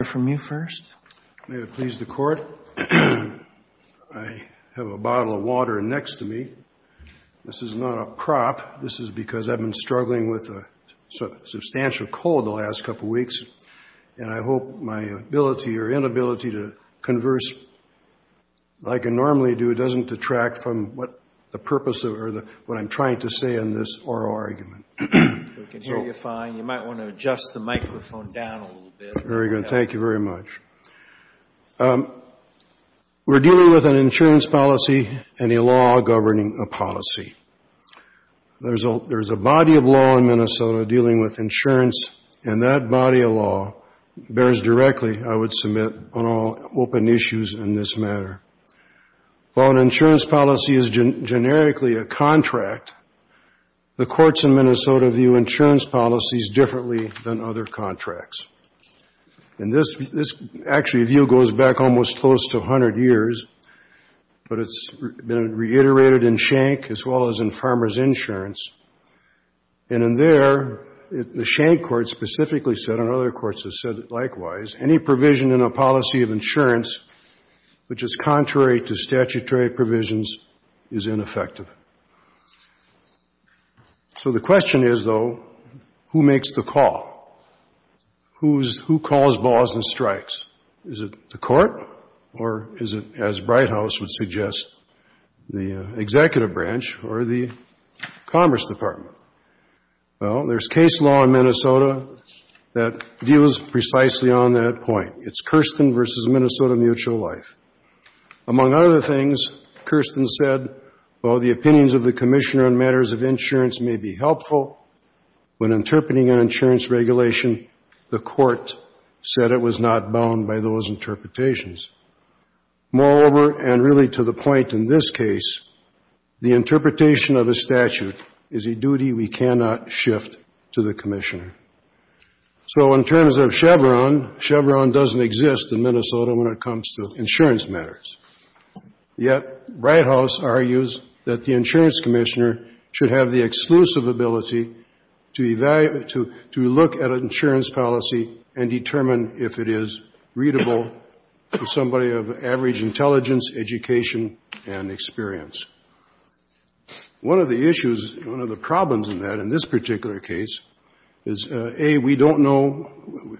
I have a bottle of water next to me. This is not a prop. This is because I've been struggling with a substantial cold the last couple weeks. And I hope my ability or inability to converse like I normally do doesn't detract from what the purpose or what I'm trying to say in this oral argument. We can hear you fine. You might want to adjust the microphone down a little bit. Very good. Thank you very much. We're dealing with an insurance policy and a law governing a policy. There's a body of law in Minnesota dealing with insurance, and that body of law bears directly, I would submit, on all open issues in this matter. While an insurance policy is generically a contract, the courts in Minnesota view insurance policies differently than other contracts. And this actually view goes back almost close to 100 years, but it's been reiterated in Schenck as well as in Farmers Insurance. And in there, the Schenck court specifically said, and other courts have said likewise, any provision in a policy of insurance which is contrary to statutory provisions is ineffective. So the question is, though, who makes the call? Who calls balls and strikes? Is it the court or is it, as Brighthouse would suggest, the executive branch or the Commerce Department? Well, there's case law in Minnesota that deals precisely on that point. It's Kirsten v. Minnesota Mutual Life. Among other things, Kirsten said, while the opinions of the commissioner on matters of insurance may be helpful, when interpreting an insurance regulation, the court said it was not bound by those interpretations. Moreover, and really to the point in this case, the interpretation of a statute is a duty we cannot shift to the commissioner. So in terms of Chevron, Chevron doesn't exist in Minnesota when it comes to insurance matters. Yet Brighthouse argues that the insurance commissioner should have the exclusive ability to evaluate, to look at an insurance policy and determine if it is readable to somebody of average intelligence, education, and experience. One of the issues, one of the problems in that in this particular case is, A, we don't know,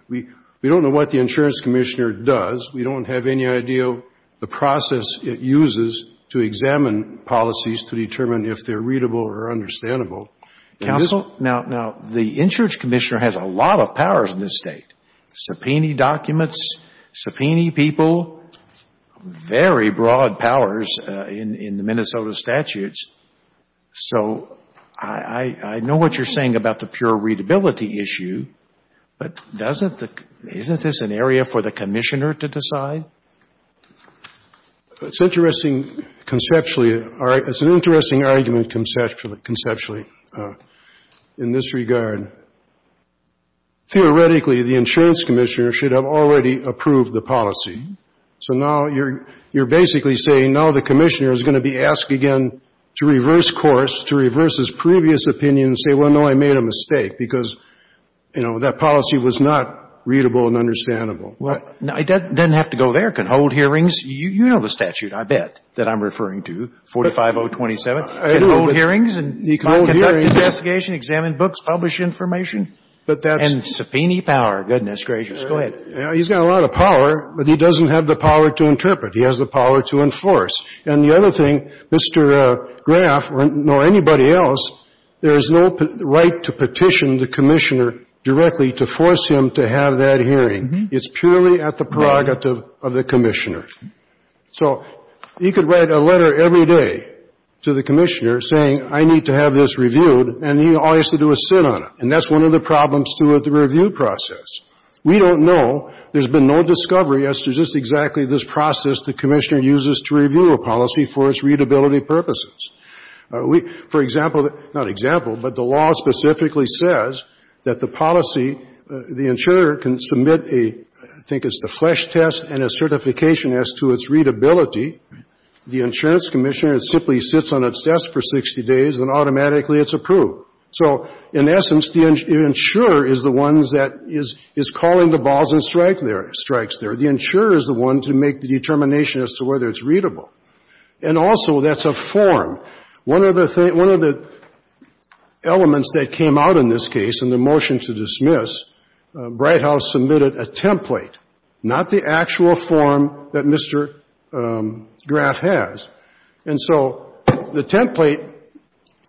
we don't know what the insurance commissioner does. We don't have any idea of the process it uses to examine policies to determine if they're readable or understandable. Now, the insurance commissioner has a lot of powers in this State. Subpoena documents, subpoena people, very broad powers in the Minnesota statutes. So I know what you're saying about the pure readability issue, but doesn't the — isn't this an area for the commissioner to decide? It's interesting conceptually. It's an interesting argument conceptually in this regard. Theoretically, the insurance commissioner should have already approved the policy. So now you're basically saying now the commissioner is going to be asked again to reverse course, to reverse his previous opinion and say, well, no, I made a mistake because, you know, that policy was not readable and understandable. It doesn't have to go there. It can hold hearings. You know the statute, I bet, that I'm referring to, 45027. It can hold hearings and conduct investigation, examine books, publish information. But that's — And subpoena power. Goodness gracious. Go ahead. He's got a lot of power, but he doesn't have the power to interpret. He has the power to enforce. And the other thing, Mr. Graff or anybody else, there is no right to petition the commissioner directly to force him to have that hearing. It's purely at the prerogative of the commissioner. So he could write a letter every day to the commissioner saying, I need to have this reviewed, and all he has to do is sit on it. And that's one of the problems, too, with the review process. We don't know. There's been no discovery as to just exactly this process the commissioner uses to review a policy for its readability purposes. We — for example — not example, but the law specifically says that the policy, the insurer can submit a — I think it's the Flesch test and a certification as to its readability. The insurance commissioner simply sits on its desk for 60 days, and automatically it's approved. So in essence, the insurer is the one that is calling the balls and strikes there. The insurer is the one to make the determination as to whether it's readable. And also, that's a form. One of the elements that came out in this case in the motion to dismiss, Brighthouse submitted a template, not the actual form that Mr. Graff has. And so the template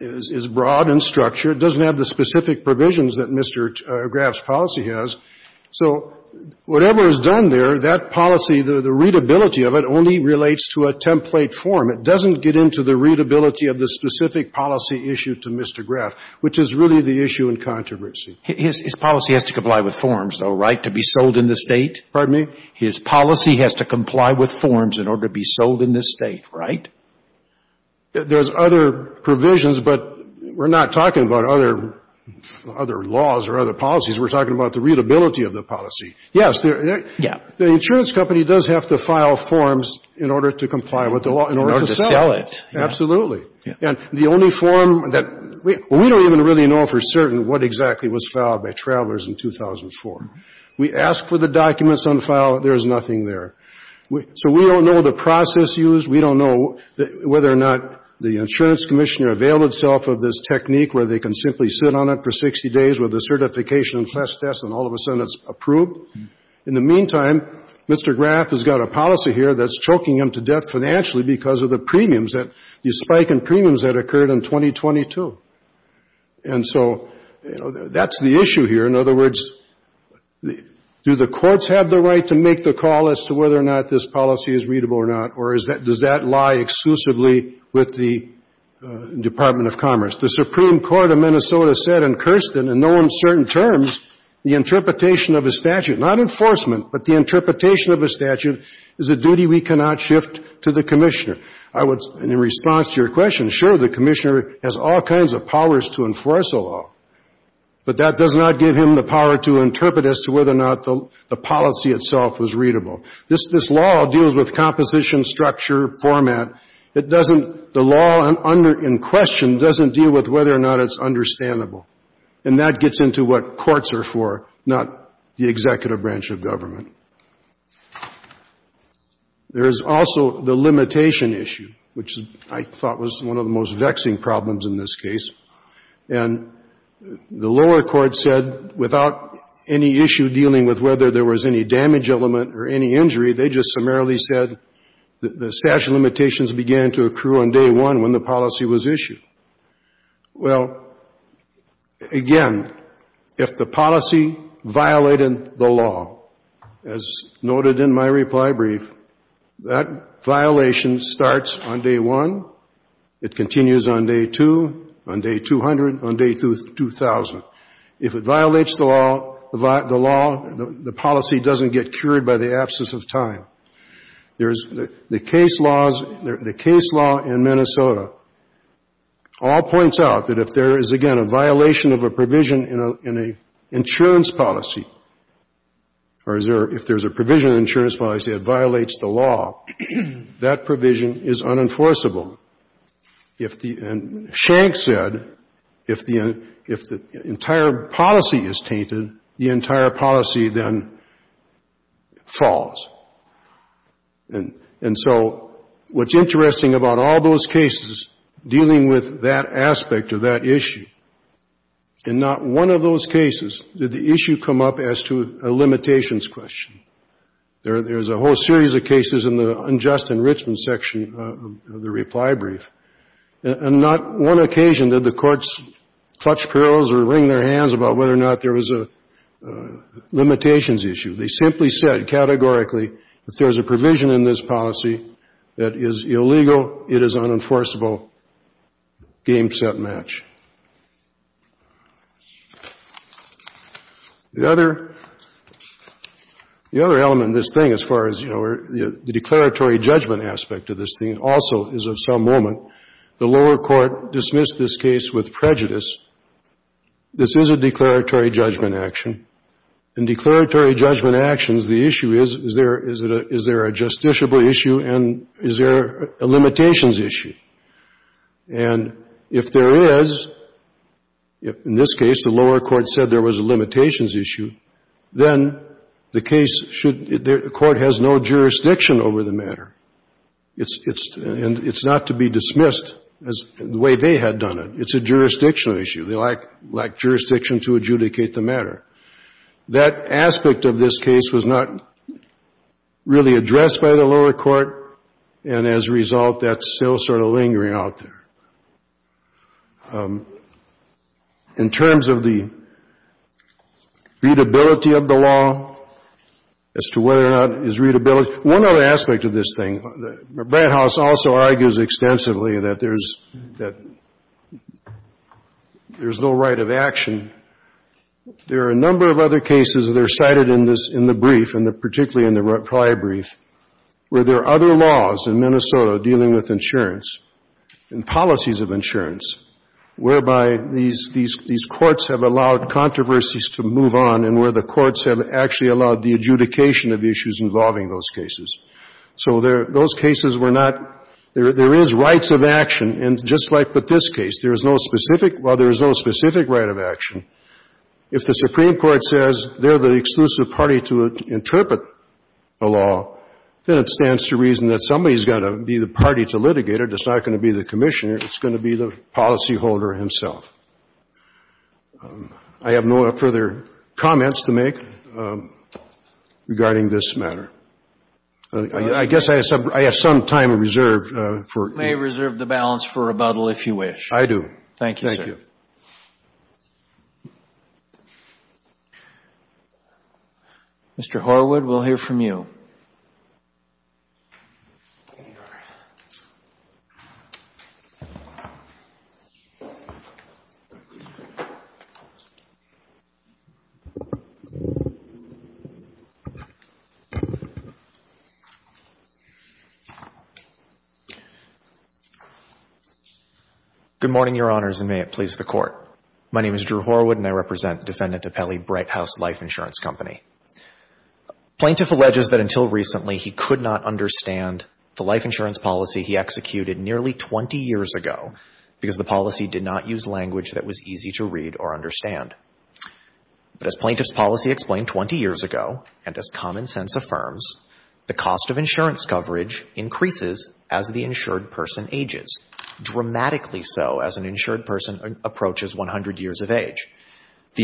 is broad and structured. It doesn't have the specific provisions that Mr. Graff's policy has. So whatever is done there, that policy, the readability of it only relates to a template form. It doesn't get into the readability of the specific policy issued to Mr. Graff, which is really the issue in controversy. His policy has to comply with forms, though, right, to be sold in the State? Pardon me? His policy has to comply with forms in order to be sold in the State, right? There's other provisions, but we're not talking about other laws or other policies. We're talking about the readability of the policy. Yes. Yeah. The insurance company does have to file forms in order to comply with the law, in order to sell it. In order to sell it, yeah. Absolutely. And the only form that we don't even really know for certain what exactly was filed by Travelers in 2004. We ask for the documents on file. There is nothing there. So we don't know the process used. We don't know whether or not the insurance commissioner availed itself of this technique where they can simply sit on it for 60 days with the certification and test test, and all of a sudden it's approved. In the meantime, Mr. Graff has got a policy here that's choking him to death financially because of the premiums, the spike in premiums that occurred in 2022. And so that's the issue here. In other words, do the courts have the right to make the call as to whether or not this policy is readable or not, or does that lie exclusively with the Department of Commerce? The Supreme Court of Minnesota said in Kirsten, in no uncertain terms, the interpretation of a statute, not enforcement, but the interpretation of a statute is a duty we cannot shift to the commissioner. In response to your question, sure, the commissioner has all kinds of powers to enforce a law, but that does not give him the power to interpret as to whether or not the policy itself was readable. This law deals with composition, structure, format. It doesn't the law in question doesn't deal with whether or not it's understandable. And that gets into what courts are for, not the executive branch of government. There is also the limitation issue, which I thought was one of the most vexing problems in this case. And the lower court said without any issue dealing with whether there was any damage element or any injury, they just summarily said the statute of limitations began to accrue on day one when the policy was issued. Well, again, if the policy violated the law, as noted in my reply brief, that violation starts on day one, it continues on day two, on day 200, on day 2,000. If it violates the law, the law, the policy doesn't get cured by the absence of time. There is the case laws, the case law in Minnesota all points out that if there is, again, a violation of a provision in an insurance policy or if there is a provision in an insurance policy that violates the law, that provision is unenforceable. And Schenck said if the entire policy is tainted, the entire policy then falls. And so what's interesting about all those cases dealing with that aspect of that issue, in not one of those cases did the issue come up as to a limitations question. There's a whole series of cases in the unjust enrichment section of the reply brief. On not one occasion did the courts clutch pearls or wring their hands about whether or not there was a limitations issue. They simply said categorically if there's a provision in this policy that is illegal, it is unenforceable. Game, set, match. The other element in this thing, as far as, you know, the declaratory judgment aspect of this thing, also is of some moment the lower court dismissed this case with prejudice. This is a declaratory judgment action. In declaratory judgment actions, the issue is, is there a justiciable issue and is there a limitations issue? And if there is, in this case the lower court said there was a limitations issue, then the case should, the court has no jurisdiction over the matter. It's not to be dismissed as the way they had done it. It's a jurisdictional issue. They lack jurisdiction to adjudicate the matter. That aspect of this case was not really addressed by the lower court, and as a result that's still sort of lingering out there. In terms of the readability of the law, as to whether or not it's readability, one other aspect of this thing, Brad House also argues extensively that there's, that there's no right of action. There are a number of other cases that are cited in this, in the brief, and particularly in the Clyde brief, where there are other laws in Minnesota dealing with insurance and policies of insurance, whereby these, these, these courts have allowed controversies to move on and where the courts have actually allowed the adjudication of the issues involving those cases. So there, those cases were not, there, there is rights of action, and just like with this case, there is no specific, well, there is no specific right of action. If the Supreme Court says they're the exclusive party to interpret the law, then it stands to reason that somebody's got to be the party to litigate it. It's not going to be the Commissioner. It's going to be the policyholder himself. I have no further comments to make regarding this matter. I guess I have some, I have some time reserved for you. You may reserve the balance for rebuttal, if you wish. I do. Thank you, sir. Thank you. Thank you. Mr. Horwood, we'll hear from you. Good morning, Your Honors, and may it please the Court. My name is Drew Horwood, and I represent Defendant DiPelle, Bright House Life Insurance Company. Plaintiff alleges that until recently he could not understand the life insurance policy he executed nearly 20 years ago, because the policy did not use language that was easy to read or understand. But as Plaintiff's policy explained 20 years ago, and as common sense affirms, the cost of insurance coverage increases as the insured person ages, dramatically The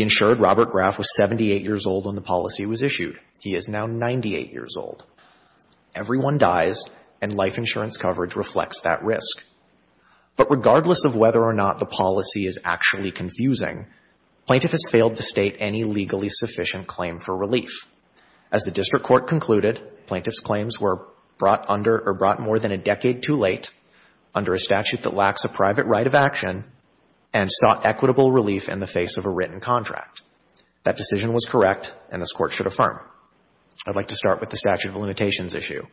insured Robert Graff was 78 years old when the policy was issued. He is now 98 years old. Everyone dies, and life insurance coverage reflects that risk. But regardless of whether or not the policy is actually confusing, Plaintiff has failed to state any legally sufficient claim for relief. As the District Court concluded, Plaintiff's claims were brought under or brought more than a decade too late, under a statute that lacks a private right of action, and sought equitable relief in the face of a written contract. That decision was correct, and this Court should affirm. I'd like to start with the statute of limitations issue.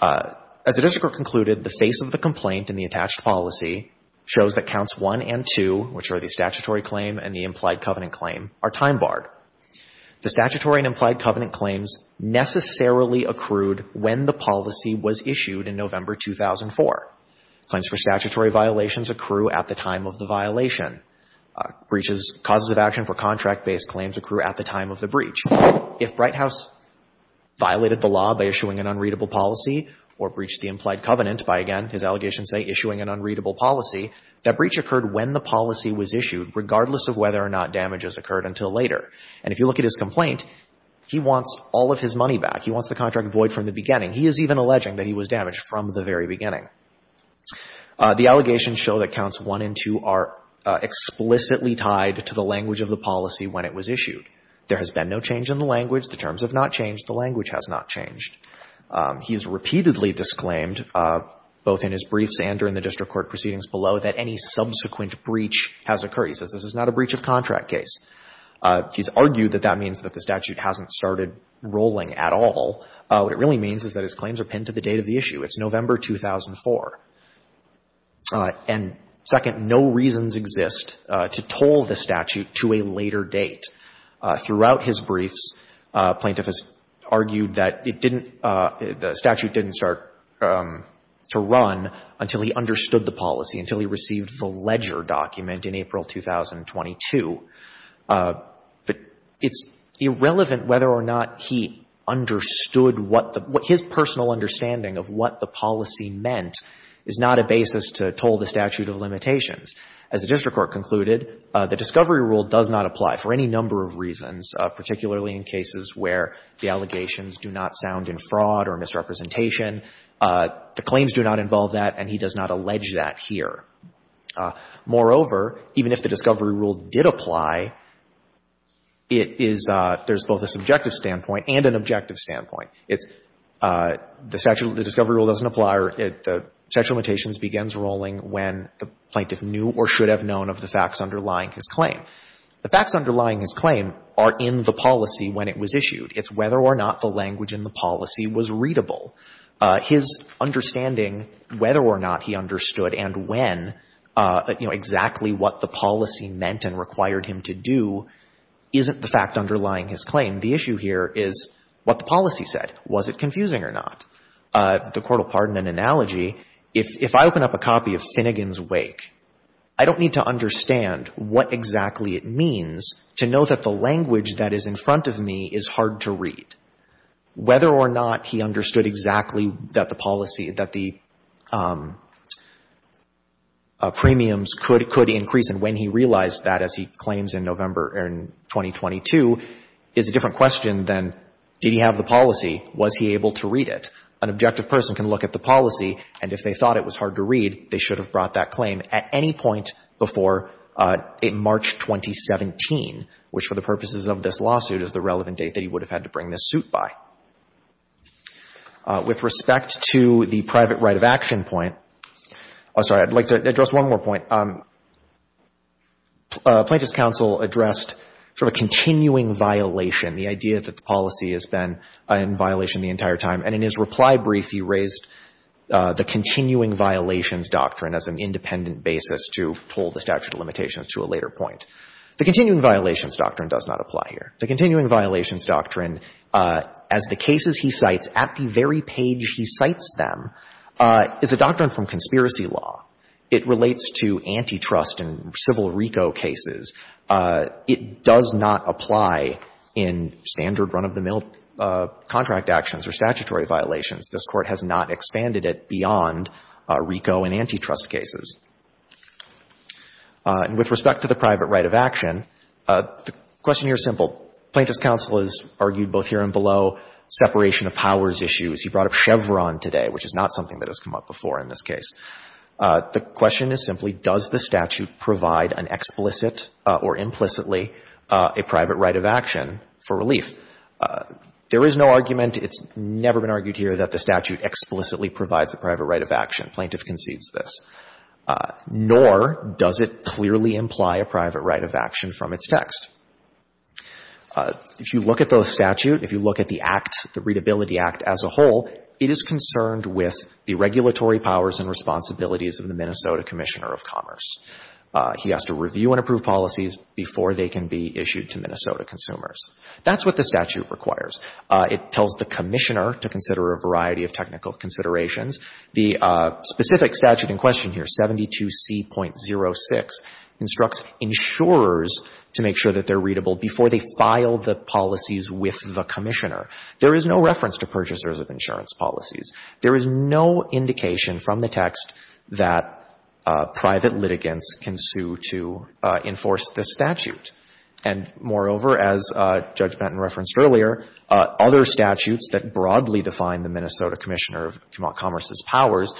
As the District Court concluded, the face of the complaint in the attached policy shows that counts 1 and 2, which are the statutory claim and the implied covenant claim, are time-barred. The statutory and implied covenant claims necessarily accrued when the policy was issued in November 2004. Claims for statutory violations accrue at the time of the violation. Breaches, causes of action for contract-based claims, accrue at the time of the breach. If Brighthouse violated the law by issuing an unreadable policy or breached the implied covenant by, again, his allegations say, issuing an unreadable policy, that breach occurred when the policy was issued, regardless of whether or not damage has occurred until later. And if you look at his complaint, he wants all of his money back. He wants the contract void from the beginning. He is even alleging that he was damaged from the very beginning. The allegations show that counts 1 and 2 are explicitly tied to the language of the policy when it was issued. There has been no change in the language. The terms have not changed. The language has not changed. He has repeatedly disclaimed, both in his briefs and during the District Court proceedings below, that any subsequent breach has occurred. He says this is not a breach of contract case. He's argued that that means that the statute hasn't started rolling at all. What it really means is that his claims are pinned to the date of the issue. It's November 2004. And, second, no reasons exist to toll the statute to a later date. Throughout his briefs, plaintiff has argued that it didn't — the statute didn't start to run until he understood the policy, until he received the ledger document in April 2022. But it's irrelevant whether or not he understood what the — what his personal understanding of what the policy meant is not a basis to toll the statute of limitations. As the District Court concluded, the discovery rule does not apply for any number of reasons, particularly in cases where the allegations do not sound in fraud or misrepresentation. The claims do not involve that, and he does not allege that here. Moreover, even if the discovery rule did apply, it is — there's both a subjective standpoint and an objective standpoint. It's the statute — the discovery rule doesn't apply, or the statute of limitations begins rolling when the plaintiff knew or should have known of the facts underlying his claim. The facts underlying his claim are in the policy when it was issued. It's whether or not the language in the policy was readable. His understanding whether or not he understood and when, you know, exactly what the policy meant and required him to do, isn't the fact underlying his claim. The issue here is what the policy said. Was it confusing or not? The court will pardon an analogy. If I open up a copy of Finnegan's Wake, I don't need to understand what exactly it means to know that the language that is in front of me is hard to read. Whether or not he understood exactly that the policy, that the premiums could increase and when he realized that, as he claims in November in 2022, is a different question than did he have the policy, was he able to read it. An objective person can look at the policy, and if they thought it was hard to read, they should have brought that claim at any point before March 2017, which for the Court of Appeals is what the suit by. With respect to the private right of action point, I'm sorry, I'd like to address one more point. Plaintiff's counsel addressed sort of a continuing violation, the idea that the policy has been in violation the entire time, and in his reply brief, he raised the continuing violations doctrine as an independent basis to hold the statute of limitations to a later point. The continuing violations doctrine does not apply here. The continuing violations doctrine, as the cases he cites at the very page he cites them, is a doctrine from conspiracy law. It relates to antitrust and civil RICO cases. It does not apply in standard run-of-the-mill contract actions or statutory violations. This Court has not expanded it beyond RICO and antitrust cases. And with respect to the private right of action, the question here is simple. Plaintiff's counsel has argued both here and below separation of powers issues. He brought up Chevron today, which is not something that has come up before in this case. The question is simply, does the statute provide an explicit or implicitly a private right of action for relief? There is no argument. It's never been argued here that the statute explicitly provides a private right of action. Plaintiff concedes this. Nor does it clearly imply a private right of action from its text. If you look at the statute, if you look at the Act, the Readability Act as a whole, it is concerned with the regulatory powers and responsibilities of the Minnesota Commissioner of Commerce. He has to review and approve policies before they can be issued to Minnesota consumers. That's what the statute requires. It tells the Commissioner to consider a variety of technical considerations. The specific statute in question here, 72C.06, instructs insurers to make sure that they're readable before they file the policies with the Commissioner. There is no reference to purchasers of insurance policies. There is no indication from the text that private litigants can sue to enforce this statute. And moreover, as Judge Benton referenced earlier, other statutes that broadly define the Minnesota Commissioner of Commerce's powers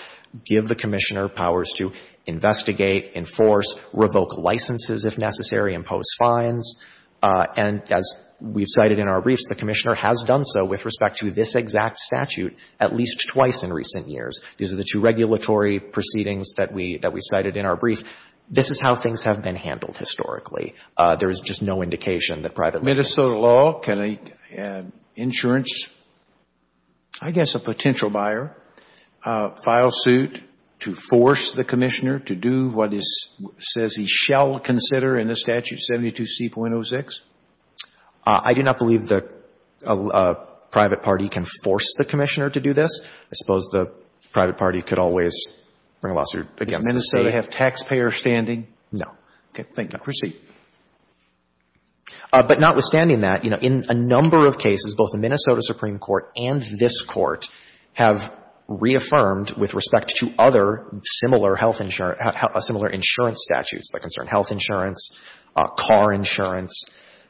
give the Commissioner powers to investigate, enforce, revoke licenses if necessary, impose fines. And as we've cited in our briefs, the Commissioner has done so with respect to this exact statute at least twice in recent years. These are the two regulatory proceedings that we cited in our brief. This is how things have been handled historically. There is just no indication that private litigants can sue. I guess a potential buyer files suit to force the Commissioner to do what it says he shall consider in the statute, 72C.06. I do not believe the private party can force the Commissioner to do this. I suppose the private party could always bring a lawsuit against the State. Does Minnesota have taxpayer standing? No. Okay. Thank you. Proceed. But notwithstanding that, you know, in a number of cases, both the Minnesota Supreme Court and this Court have reaffirmed with respect to other similar health insurance, similar insurance statutes that concern health insurance, car insurance,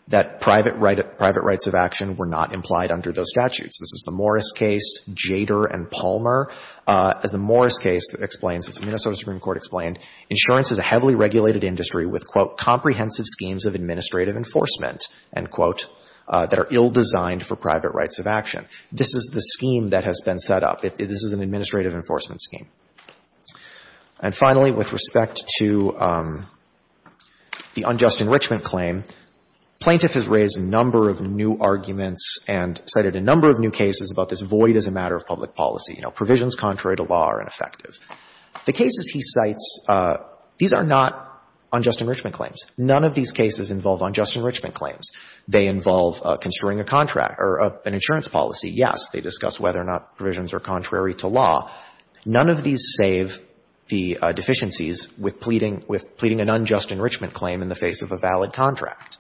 that private rights of action were not implied under those statutes. This is the Morris case, Jader and Palmer. The Morris case explains, as the Minnesota Supreme Court explained, insurance is a heavily regulated industry with, quote, comprehensive schemes of administrative enforcement, end quote, that are ill-designed for private rights of action. This is the scheme that has been set up. This is an administrative enforcement scheme. And finally, with respect to the unjust enrichment claim, plaintiff has raised a number of new arguments and cited a number of new cases about this void as a matter of public policy. You know, provisions contrary to law are ineffective. The cases he cites, these are not unjust enrichment claims. None of these cases involve unjust enrichment claims. They involve construing a contract or an insurance policy, yes. They discuss whether or not provisions are contrary to law. None of these save the deficiencies with pleading with pleading an unjust enrichment claim in the face of a valid contract.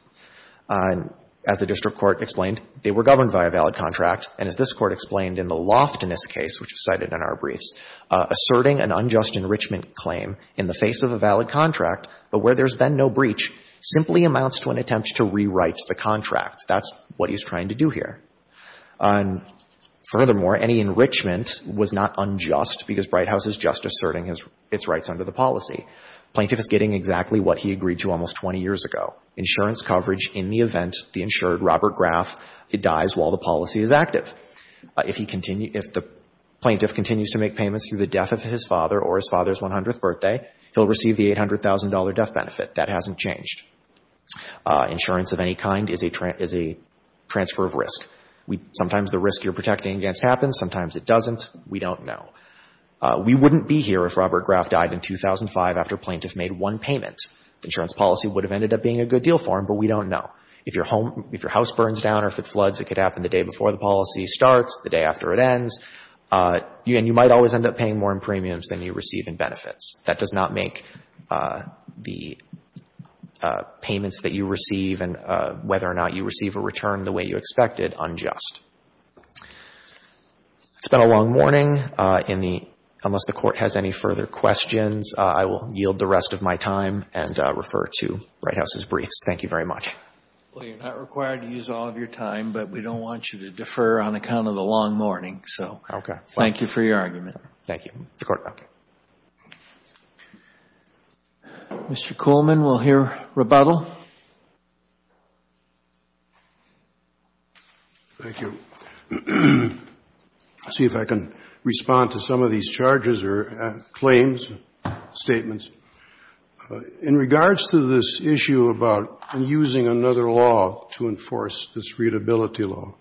As the district court explained, they were governed by a valid contract. And as this Court explained in the Loftinist case, which is cited in our briefs, asserting an unjust enrichment claim in the face of a valid contract, but where there's been no breach, simply amounts to an attempt to rewrite the contract. That's what he's trying to do here. And furthermore, any enrichment was not unjust because Bright House is just asserting its rights under the policy. Plaintiff is getting exactly what he agreed to almost 20 years ago, insurance coverage in the event the insured Robert Graff dies while the policy is active. If he continues, if the plaintiff continues to make payments through the death of his father or his father's 100th birthday, he'll receive the $800,000 death benefit. That hasn't changed. Insurance of any kind is a transfer of risk. Sometimes the risk you're protecting against happens. Sometimes it doesn't. We don't know. We wouldn't be here if Robert Graff died in 2005 after plaintiff made one payment. Insurance policy would have ended up being a good deal for him, but we don't know. If your home, if your house burns down or if it floods, it could happen the day before the policy starts, the day after it ends. And you might always end up paying more in premiums than you receive in benefits. That does not make the payments that you receive and whether or not you receive a return the way you expected unjust. It's been a long morning. Unless the Court has any further questions, I will yield the rest of my time and refer to the White House's briefs. Thank you very much. Well, you're not required to use all of your time, but we don't want you to defer on account of the long morning. Okay. Thank you for your argument. Thank you. Mr. Kuhlman, we'll hear rebuttal. Thank you. Let's see if I can respond to some of these charges or claims, statements. In regards to this issue about using another law to enforce this readability law,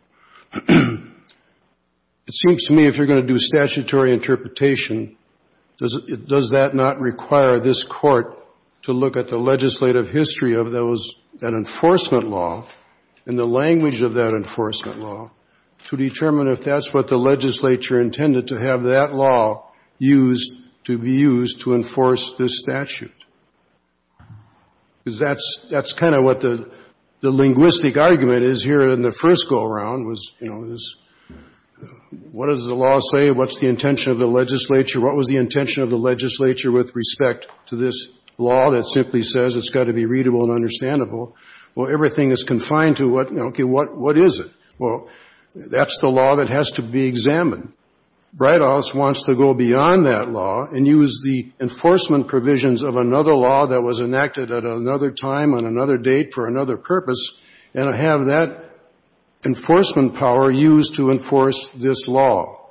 it seems to me if you're going to do statutory interpretation, does that not require this Court to look at the legislative history of that enforcement law and the to determine if that's what the legislature intended to have that law used to be used to enforce this statute? Because that's kind of what the linguistic argument is here in the first go-around was, you know, what does the law say? What's the intention of the legislature? What was the intention of the legislature with respect to this law that simply says it's got to be readable and understandable? Well, everything is confined to, okay, what is it? Well, that's the law that has to be examined. Brighthouse wants to go beyond that law and use the enforcement provisions of another law that was enacted at another time on another date for another purpose and have that enforcement power used to enforce this law.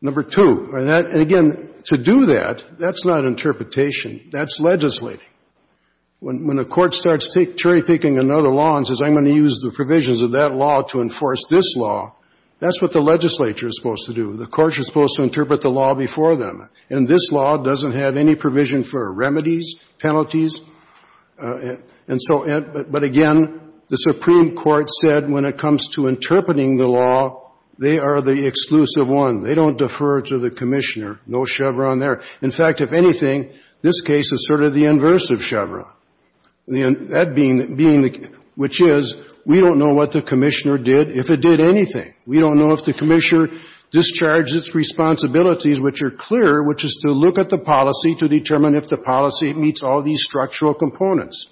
Number two, and again, to do that, that's not interpretation. That's legislating. When the Court starts cherry-picking another law and says, I'm going to use the provisions of that law to enforce this law, that's what the legislature is supposed to do. The Court is supposed to interpret the law before them, and this law doesn't have any provision for remedies, penalties. But again, the Supreme Court said when it comes to interpreting the law, they are the exclusive one. They don't defer to the Commissioner. No Chevron there. In fact, if anything, this case is sort of the inverse of Chevron, which is we don't know what the Commissioner did, if it did anything. We don't know if the Commissioner discharged its responsibilities, which are clear, which is to look at the policy to determine if the policy meets all these structural components.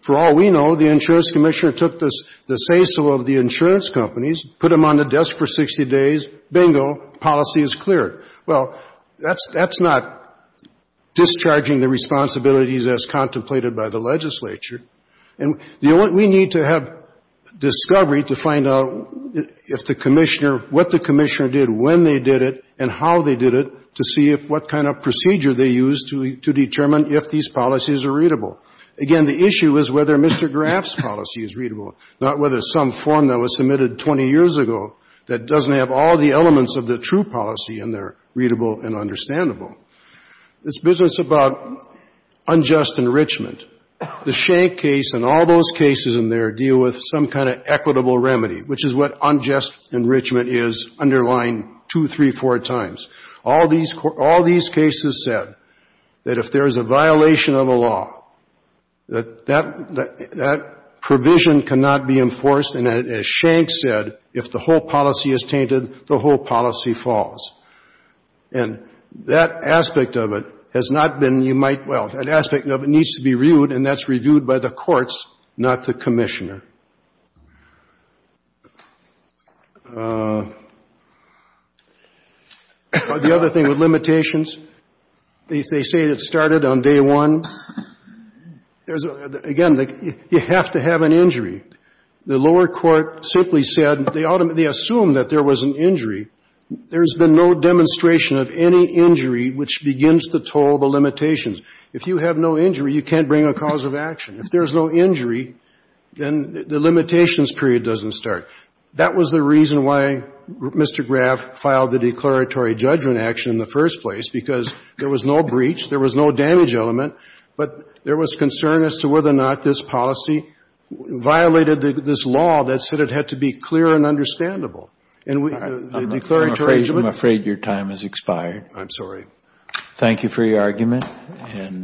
For all we know, the Insurance Commissioner took the say-so of the insurance companies, put them on the desk for 60 days, bingo, policy is cleared. Well, that's not discharging the responsibilities as contemplated by the legislature. And the only we need to have discovery to find out if the Commissioner, what the Commissioner did, when they did it, and how they did it, to see if what kind of procedure they used to determine if these policies are readable. Again, the issue is whether Mr. Graff's policy is readable, not whether some form that was submitted 20 years ago that doesn't have all the elements of the true policy in there readable and understandable. This business about unjust enrichment, the Schenck case and all those cases in there deal with some kind of equitable remedy, which is what unjust enrichment is underlined two, three, four times. All these cases said that if there is a violation of a law, that that provision cannot be enforced, and as Schenck said, if the whole policy is tainted, the whole policy falls. And that aspect of it has not been, you might, well, that aspect of it needs to be reviewed, and that's reviewed by the courts, not the Commissioner. The other thing with limitations, they say it started on day one. Again, you have to have an injury. The lower court simply said they assume that there was an injury. There's been no demonstration of any injury which begins to toll the limitations. If you have no injury, you can't bring a cause of action. If there's no injury, then the limitations period doesn't start. That was the reason why Mr. Graff filed the declaratory judgment action in the first place, because there was no breach, there was no damage element, but there was concern as to whether or not this policy violated this law that said it had to be clear and understandable. And the declaratory judgment? I'm afraid your time has expired. I'm sorry. Thank you for your argument.